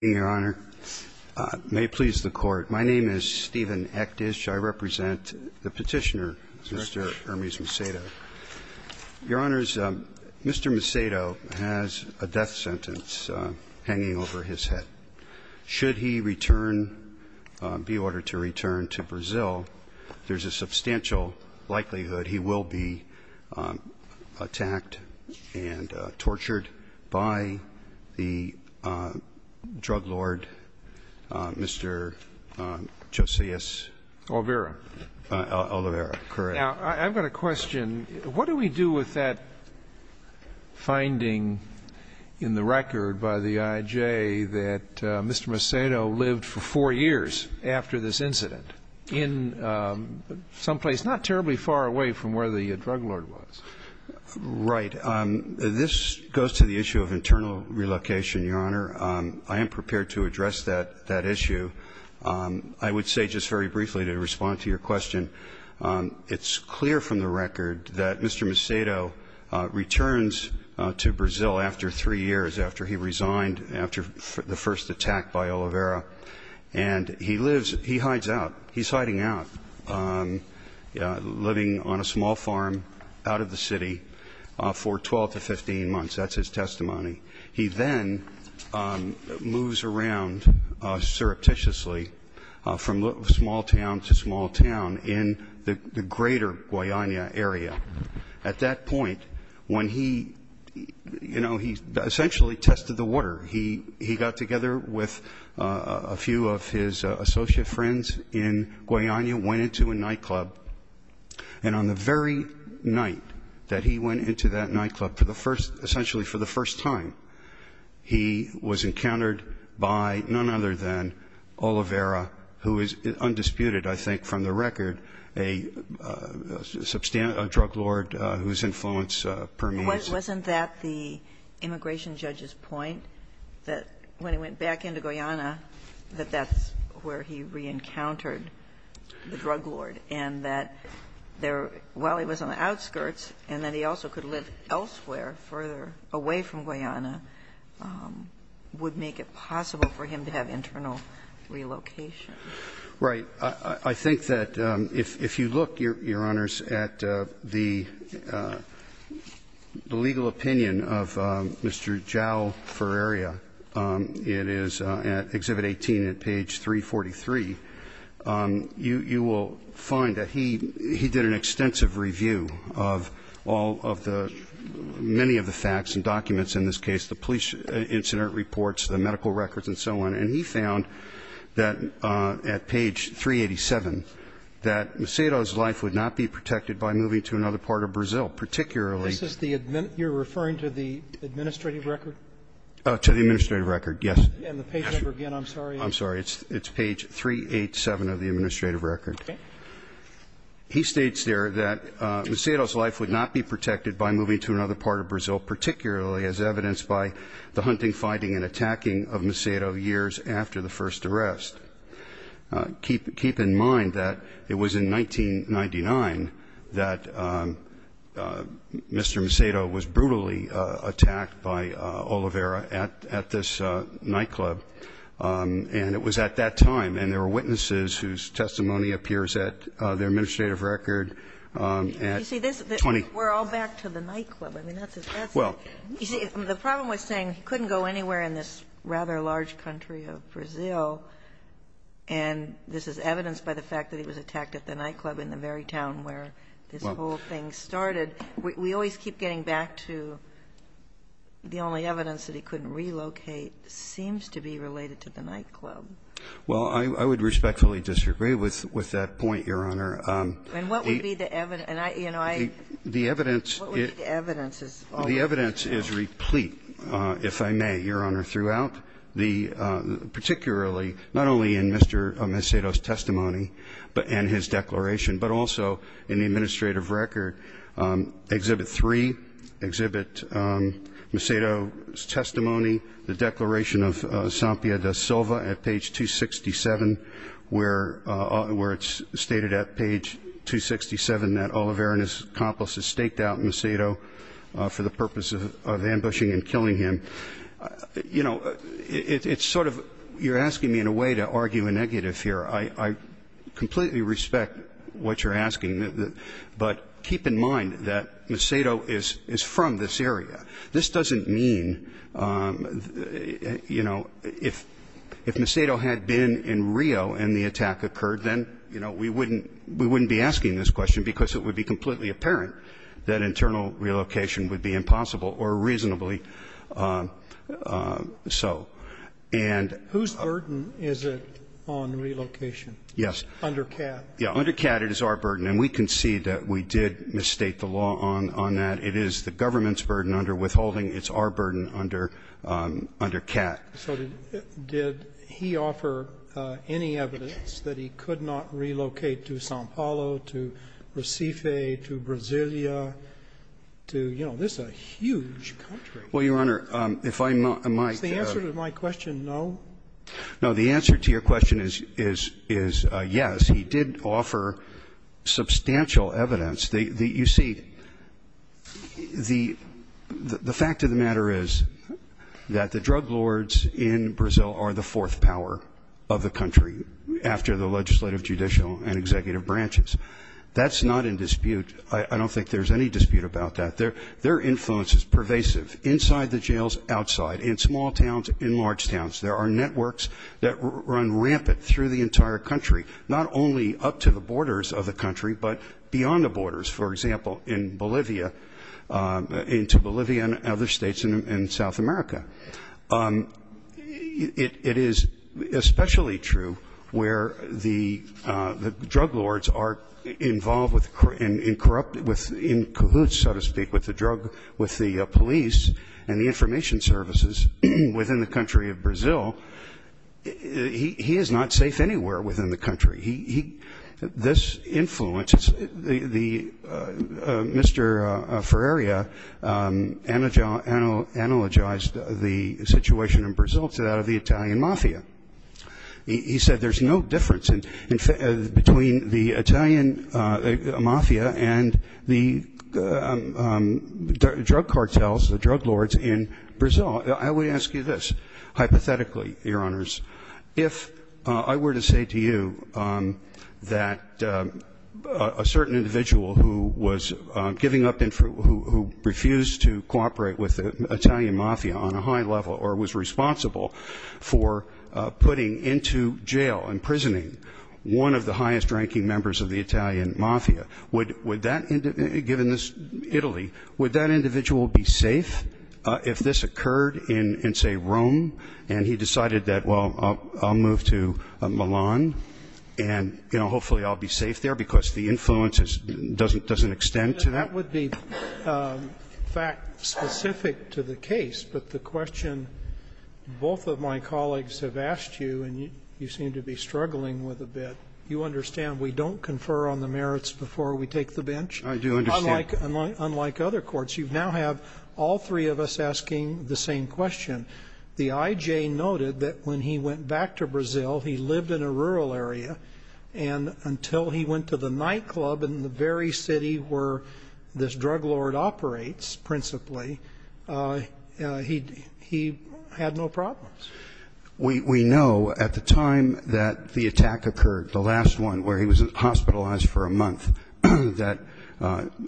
May it please the Court, my name is Stephen Ektish. I represent the petitioner, Mr. Hermes Macedo. Your Honors, Mr. Macedo has a death sentence hanging over his head. Should he be ordered to return to Brazil, there's a substantial likelihood he will be attacked and tortured by the drug lord, Mr. Josias Olvera. Now, I've got a question. What do we do with that finding in the record by the IJ that Mr. Macedo lived for four years after this incident in some place not terribly far away from where the drug lord was? Right. This goes to the issue of internal relocation, Your Honor. I am prepared to address that issue. I would say just very briefly to respond to your question, it's clear from the record that Mr. Macedo returns to Brazil after three years, after he resigned, after the first attack by Olvera. And he lives, he hides out, he's hiding out, living on a small farm out of the city for 12 to 15 months. That's his testimony. He then moves around surreptitiously from small town to small town in the greater Guayana area. At that point, when he, you know, he essentially tested the water, he got together with a few of his associate friends in Guayana, went into a nightclub. And on the very night that he went into that nightclub for the first, essentially for the first time, he was encountered by none other than Olvera, who is undisputed, I think, from the record, a drug lord whose influence permeates. Wasn't that the immigration judge's point, that when he went back into Guayana, that that's where he reencountered the drug lord, and that while he was on the outskirts and that he also could live elsewhere, further away from Guayana, would make it possible for him to have internal relocation? Right. I think that if you look, Your Honors, at the legal opinion of Mr. Jal Ferreria, it is at Exhibit 18 at page 343, you will find that he did an extensive review of all of the – many of the facts and documents in this case, the police incident reports, the medical records and so on. And he found that at page 387, that Macedo's life would not be protected by moving to another part of Brazil, particularly – This is the – you're referring to the administrative record? To the administrative record, yes. And the page number again, I'm sorry. I'm sorry. It's page 387 of the administrative record. Okay. He states there that Macedo's life would not be protected by moving to another part of Brazil, particularly as evidenced by the hunting, fighting and attacking of Macedo years after the first arrest. Keep in mind that it was in 1999 that Mr. Macedo was brutally attacked by Oliveira at this nightclub, and it was at that time. And there were witnesses whose testimony appears at the administrative record at 20 – We're all back to the nightclub. I mean, that's a – Well – You see, the problem was saying he couldn't go anywhere in this rather large country of Brazil, and this is evidenced by the fact that he was attacked at the nightclub in the very town where this whole thing started. We always keep getting back to the only evidence that he couldn't relocate seems to be related to the nightclub. Well, I would respectfully disagree with that point, Your Honor. And what would be the evidence? The evidence is replete, if I may, Your Honor, throughout, particularly not only in Mr. Macedo's testimony and his declaration, but also in the administrative record, Exhibit 3, Exhibit Macedo's testimony, the declaration of Sampia da Silva at page 267, where it's stated at page 267 that Oliveira and his accomplices staked out Macedo for the purpose of ambushing and killing him. You know, it's sort of – you're asking me in a way to argue a negative here. I completely respect what you're asking, but keep in mind that Macedo is from this area. This doesn't mean, you know, if Macedo had been in Rio and the attack occurred, then, you know, we wouldn't be asking this question because it would be completely apparent that internal relocation would be impossible or reasonably so. And – Whose burden is it on relocation? Yes. Under CAT. Yeah. Under CAT, it is our burden. And we concede that we did misstate the law on that. It is the government's burden under withholding. It's our burden under CAT. So did he offer any evidence that he could not relocate to Sao Paulo, to Recife, to Brasilia, to – you know, this is a huge country. Well, Your Honor, if I might – Is the answer to my question no? No. The answer to your question is yes. He did offer substantial evidence. You see, the fact of the matter is that the drug lords in Brazil are the fourth power of the country after the legislative, judicial, and executive branches. That's not in dispute. I don't think there's any dispute about that. Their influence is pervasive inside the jails, outside, in small towns, in large towns. There are networks that run rampant through the entire country, not only up to the borders of the country, but beyond the borders. For example, in Bolivia, into Bolivia and other states in South America. It is especially true where the drug lords are involved with – in cahoots, so to speak, with the drug – with the police and the information services within the country of Brazil. He is not safe anywhere within the country. This influence – Mr. Ferreira analogized the situation in Brazil to that of the Italian mafia. He said there's no difference between the Italian mafia and the drug cartels, the drug lords in Brazil. I would ask you this. Hypothetically, Your Honors, if I were to say to you that a certain individual who was giving up – who refused to cooperate with the Italian mafia on a high level or was responsible for putting into jail, imprisoning, one of the highest-ranking members of the Italian mafia, would that – given this Italy, would that individual be safe if this occurred in, say, Rome, and he decided that, well, I'll move to Milan and, you know, hopefully I'll be safe there because the influence doesn't extend to that? That would be fact specific to the case, but the question both of my colleagues have asked you, and you seem to be struggling with a bit, you understand we don't confer on the merits before we take the bench? I do understand. Unlike other courts, you now have all three of us asking the same question. The IJ noted that when he went back to Brazil, he lived in a rural area, and until he went to the nightclub in the very city where this drug lord operates principally, he had no problems. We know at the time that the attack occurred, the last one, where he was hospitalized for a month, that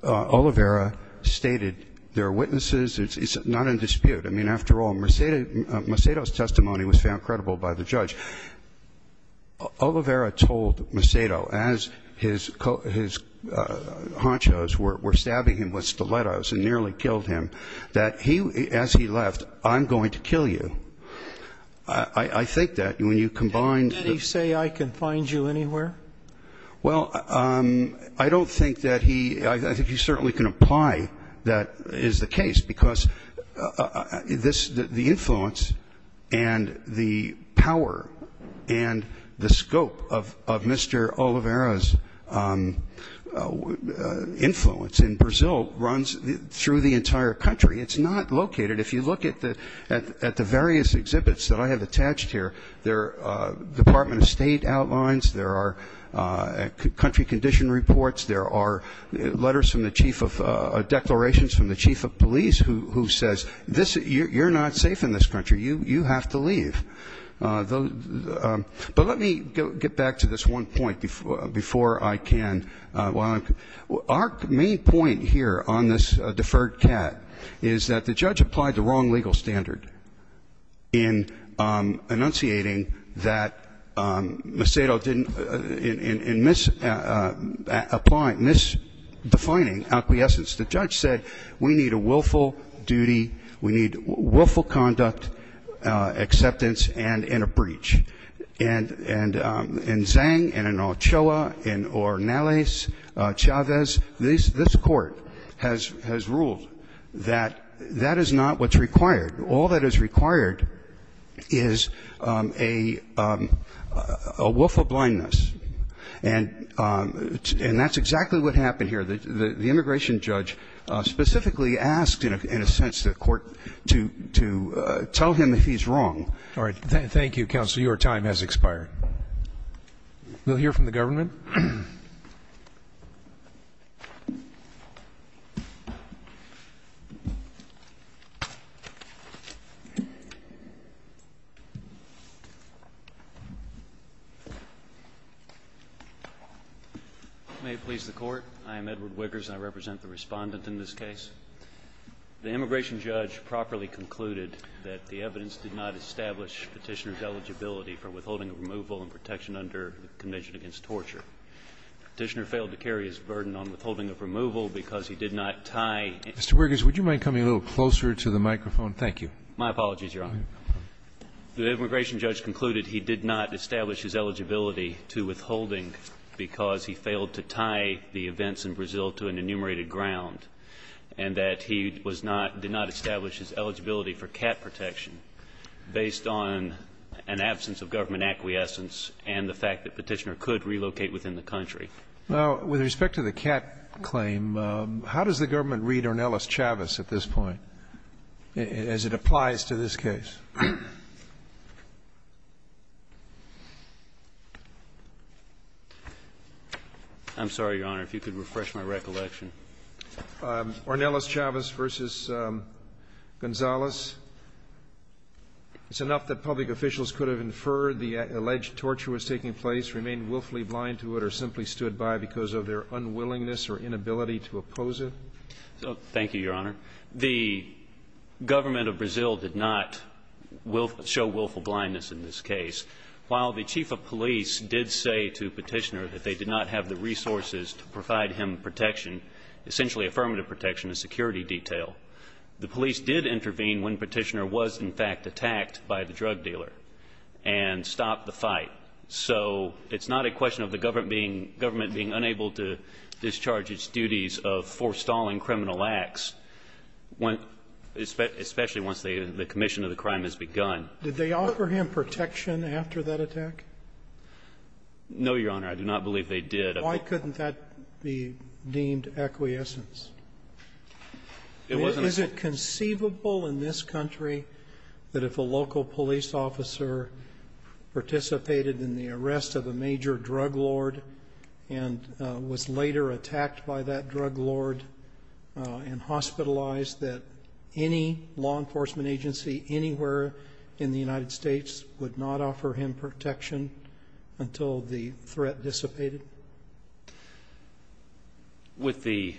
Oliveira stated there are witnesses. It's not in dispute. I mean, after all, Macedo's testimony was found credible by the judge. Oliveira told Macedo, as his honchos were stabbing him with stilettos and nearly killed him, that as he left, I'm going to kill you. I think that when you combine the – Did he say, I can find you anywhere? Well, I don't think that he – I think he certainly can apply that is the case, because the influence and the power and the scope of Mr. Oliveira's influence in Brazil runs through the entire country. It's not located – if you look at the various exhibits that I have attached here, there are Department of State outlines, there are country condition reports, there are letters from the chief of – declarations from the chief of police who says, you're not safe in this country, you have to leave. But let me get back to this one point before I can. Our main point here on this deferred CAD is that the judge applied the wrong legal standard in enunciating that Macedo didn't – in mis-applying – mis-defining acquiescence. The judge said, we need a willful duty, we need willful conduct, acceptance, and a breach. And in Zhang, and in Ochoa, in Ornelas, Chavez, this court has ruled that that is not what's required. All that is required is a willful blindness. And that's exactly what happened here. The immigration judge specifically asked, in a sense, the court to tell him he's wrong. All right. Thank you, counsel. Your time has expired. We'll hear from the government. May it please the court. I am Edward Wiggers, and I represent the respondent in this case. The immigration judge properly concluded that the evidence did not establish Petitioner's eligibility for withholding of removal and protection under the Convention Against Torture. Petitioner failed to carry his burden on withholding of removal because he did not tie – Mr. Wiggers, would you mind coming a little closer to the microphone? Thank you. My apologies, Your Honor. The immigration judge concluded he did not establish his eligibility to withholding because he failed to tie the events in Brazil to an enumerated ground. And that he was not – did not establish his eligibility for CAT protection based on an absence of government acquiescence and the fact that Petitioner could relocate within the country. Now, with respect to the CAT claim, how does the government read on Ellis Chavez at this point as it applies to this case? I'm sorry, Your Honor, if you could refresh my recollection. Ornelas Chavez v. Gonzales. It's enough that public officials could have inferred the alleged torture was taking place, remained willfully blind to it, or simply stood by because of their unwillingness or inability to oppose it? Thank you, Your Honor. The government of Brazil did not show willful blindness in this case. While the chief of police did say to Petitioner that they did not have the resources to provide him protection, essentially affirmative protection, a security detail, the police did intervene when Petitioner was, in fact, attacked by the drug dealer and stopped the fight. So it's not a question of the government being unable to discharge its duties of forestalling criminal acts, especially once the commission of the crime has begun. Did they offer him protection after that attack? No, Your Honor. I do not believe they did. Why couldn't that be deemed acquiescence? It wasn't. Is it conceivable in this country that if a local police officer participated in the arrest of a major drug lord and was later attacked by that drug lord and hospitalized that any law enforcement agency anywhere in the United States would not offer him protection until the threat dissipated? With the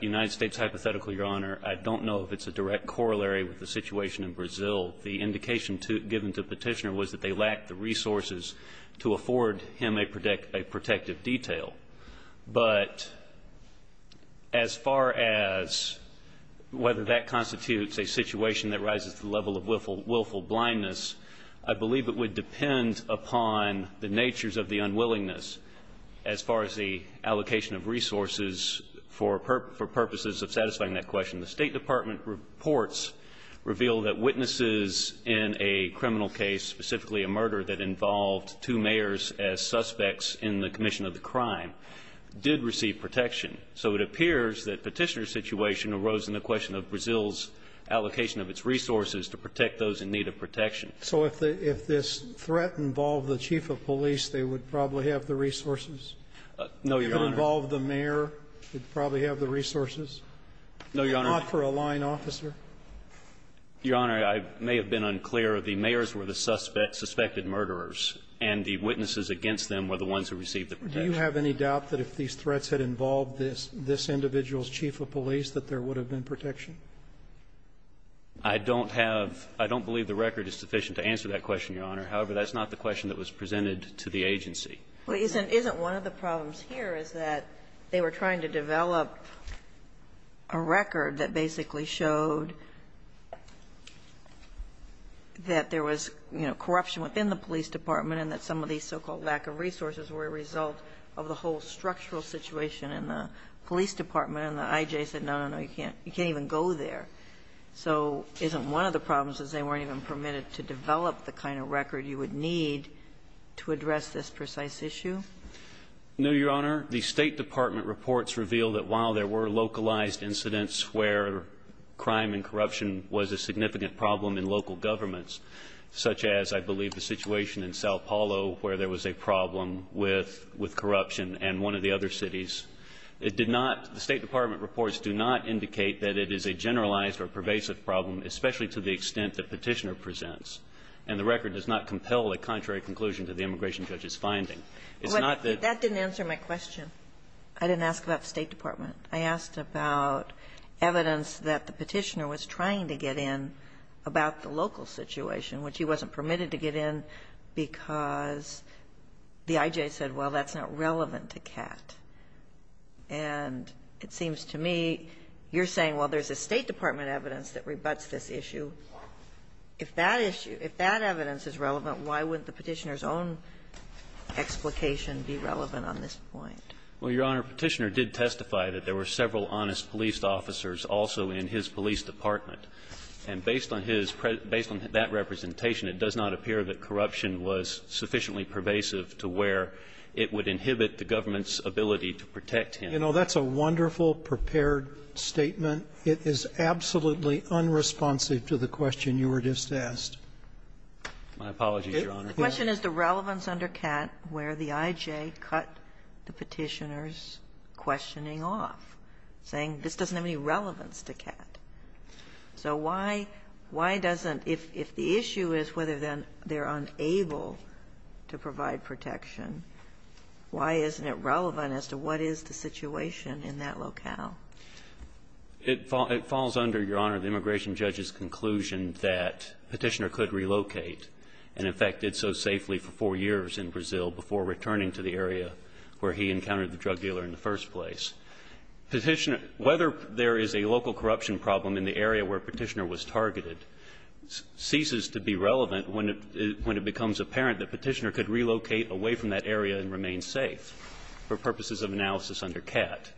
United States hypothetical, Your Honor, I don't know if it's a direct corollary with the situation in Brazil. The indication given to Petitioner was that they lacked the resources to afford him a protective detail. But as far as whether that constitutes a situation that rises to the level of willful blindness, I believe it would depend upon the natures of the unwillingness as far as the allocation of resources for purposes of satisfying that question. The State Department reports reveal that witnesses in a criminal case, specifically a murder that involved two mayors as suspects in the commission of the crime, did receive protection. So it appears that Petitioner's situation arose in the question of Brazil's allocation of its resources to protect those in need of protection. So if this threat involved the chief of police, they would probably have the resources? No, Your Honor. If it involved the mayor, they'd probably have the resources? No, Your Honor. Not for a line officer? Your Honor, I may have been unclear. The mayors were the suspected murderers, and the witnesses against them were the ones who received the protection. Do you have any doubt that if these threats had involved this individual's chief of police, that there would have been protection? I don't have – I don't believe the record is sufficient to answer that question, Your Honor. However, that's not the question that was presented to the agency. Isn't one of the problems here is that they were trying to develop a record that basically showed that there was, you know, corruption within the police department and that some of these so-called lack of resources were a result of the whole structural situation, and the police department and the I.J. said, no, no, no, you can't even go there. So isn't one of the problems is they weren't even permitted to develop the kind of record you would need to address this precise issue? No, Your Honor. The State Department reports reveal that while there were localized incidents where crime and corruption was a significant problem in local governments, such as, I believe, the situation in Sao Paulo where there was a problem with corruption in one of the other cities, it did not – the State Department reports do not indicate that it is a generalized or pervasive problem, especially to the extent that Petitioner presents, and the record does not compel a contrary conclusion to the immigration judge's finding. It's not that the – But that didn't answer my question. I didn't ask about the State Department. I asked about evidence that the Petitioner was trying to get in about the local situation, which he wasn't permitted to get in because the I.J. said, well, that's not relevant to CAT. And it seems to me you're saying, well, there's a State Department evidence that rebutts this issue. If that issue – if that evidence is relevant, why wouldn't the Petitioner's own explication be relevant on this point? Well, Your Honor, Petitioner did testify that there were several honest police officers also in his police department, and based on his – based on that representation, it does not appear that corruption was sufficiently pervasive to where it would inhibit the government's ability to protect him. You know, that's a wonderful, prepared statement. It is absolutely unresponsive to the question you were just asked. My apologies, Your Honor. The question is the relevance under CAT where the I.J. cut the Petitioner's questioning off, saying this doesn't have any relevance to CAT. So why – why doesn't – if the issue is whether then they're unable to provide protection, why isn't it relevant as to what is the situation in that locale? It falls under, Your Honor, the immigration judge's conclusion that Petitioner could relocate and, in fact, did so safely for four years in Brazil before returning to the area where he encountered the drug dealer in the first place. Petitioner – whether there is a local corruption problem in the area where Petitioner was targeted ceases to be relevant when it – when it becomes apparent that Petitioner could relocate away from that area and remain safe for purposes of analysis under CAT.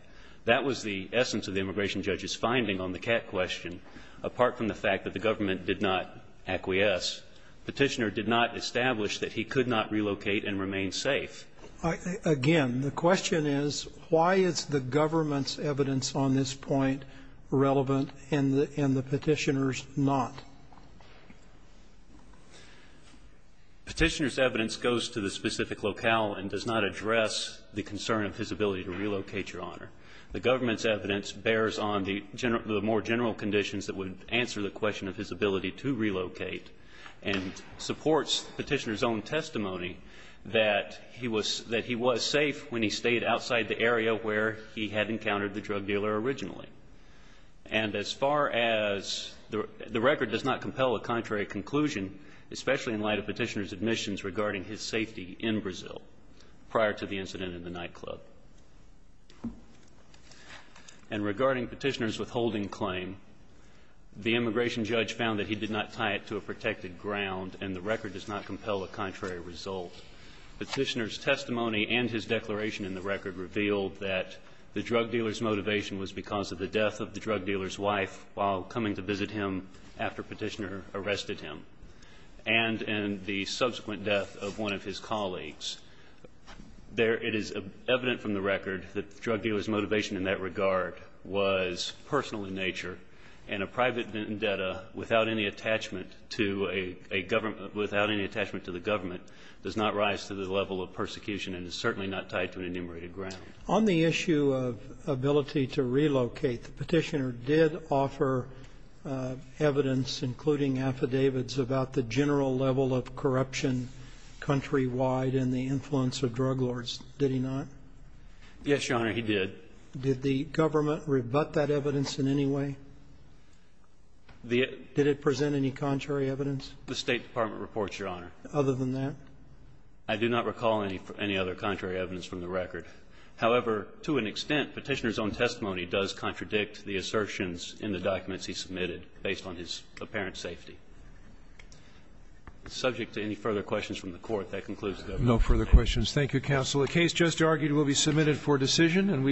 That was the essence of the immigration judge's finding on the CAT question. Apart from the fact that the government did not acquiesce, Petitioner did not establish that he could not relocate and remain safe. Again, the question is, why is the government's evidence on this point relevant and the Petitioner's not? Petitioner's evidence goes to the specific locale and does not address the concern of his ability to relocate, Your Honor. The government's evidence bears on the more general conditions that would answer the question of his ability to relocate and supports Petitioner's own testimony that he was – that he was safe when he stayed outside the area where he had encountered the drug dealer originally. And as far as – the record does not compel a contrary conclusion, especially in light of Petitioner's admissions regarding his safety in Brazil prior to the incident in the nightclub. And regarding Petitioner's withholding claim, the immigration judge found that he did not tie it to a protected ground, and the record does not compel a contrary result. Petitioner's testimony and his declaration in the record revealed that the drug dealer's motivation was because of the death of the drug dealer's wife while coming to visit him after Petitioner arrested him and in the subsequent death of one of his colleagues. There – it is evident from the record that the drug dealer's motivation in that regard was personal in nature, and a private vendetta without any attachment to a government – without any attachment to the government does not rise to the level of persecution and is certainly not tied to an enumerated ground. On the issue of ability to relocate, Petitioner did offer evidence, including affidavits, about the general level of corruption countrywide and the influence of drug lords, did he not? Yes, Your Honor, he did. Did the government rebut that evidence in any way? The – Did it present any contrary evidence? The State Department reports, Your Honor. Other than that? I do not recall any other contrary evidence from the record. However, to an extent, Petitioner's own testimony does contradict the assertions in the documents he submitted based on his apparent safety. Subject to any further questions from the Court, that concludes the debate. No further questions. Thank you, counsel. The case just argued will be submitted for decision.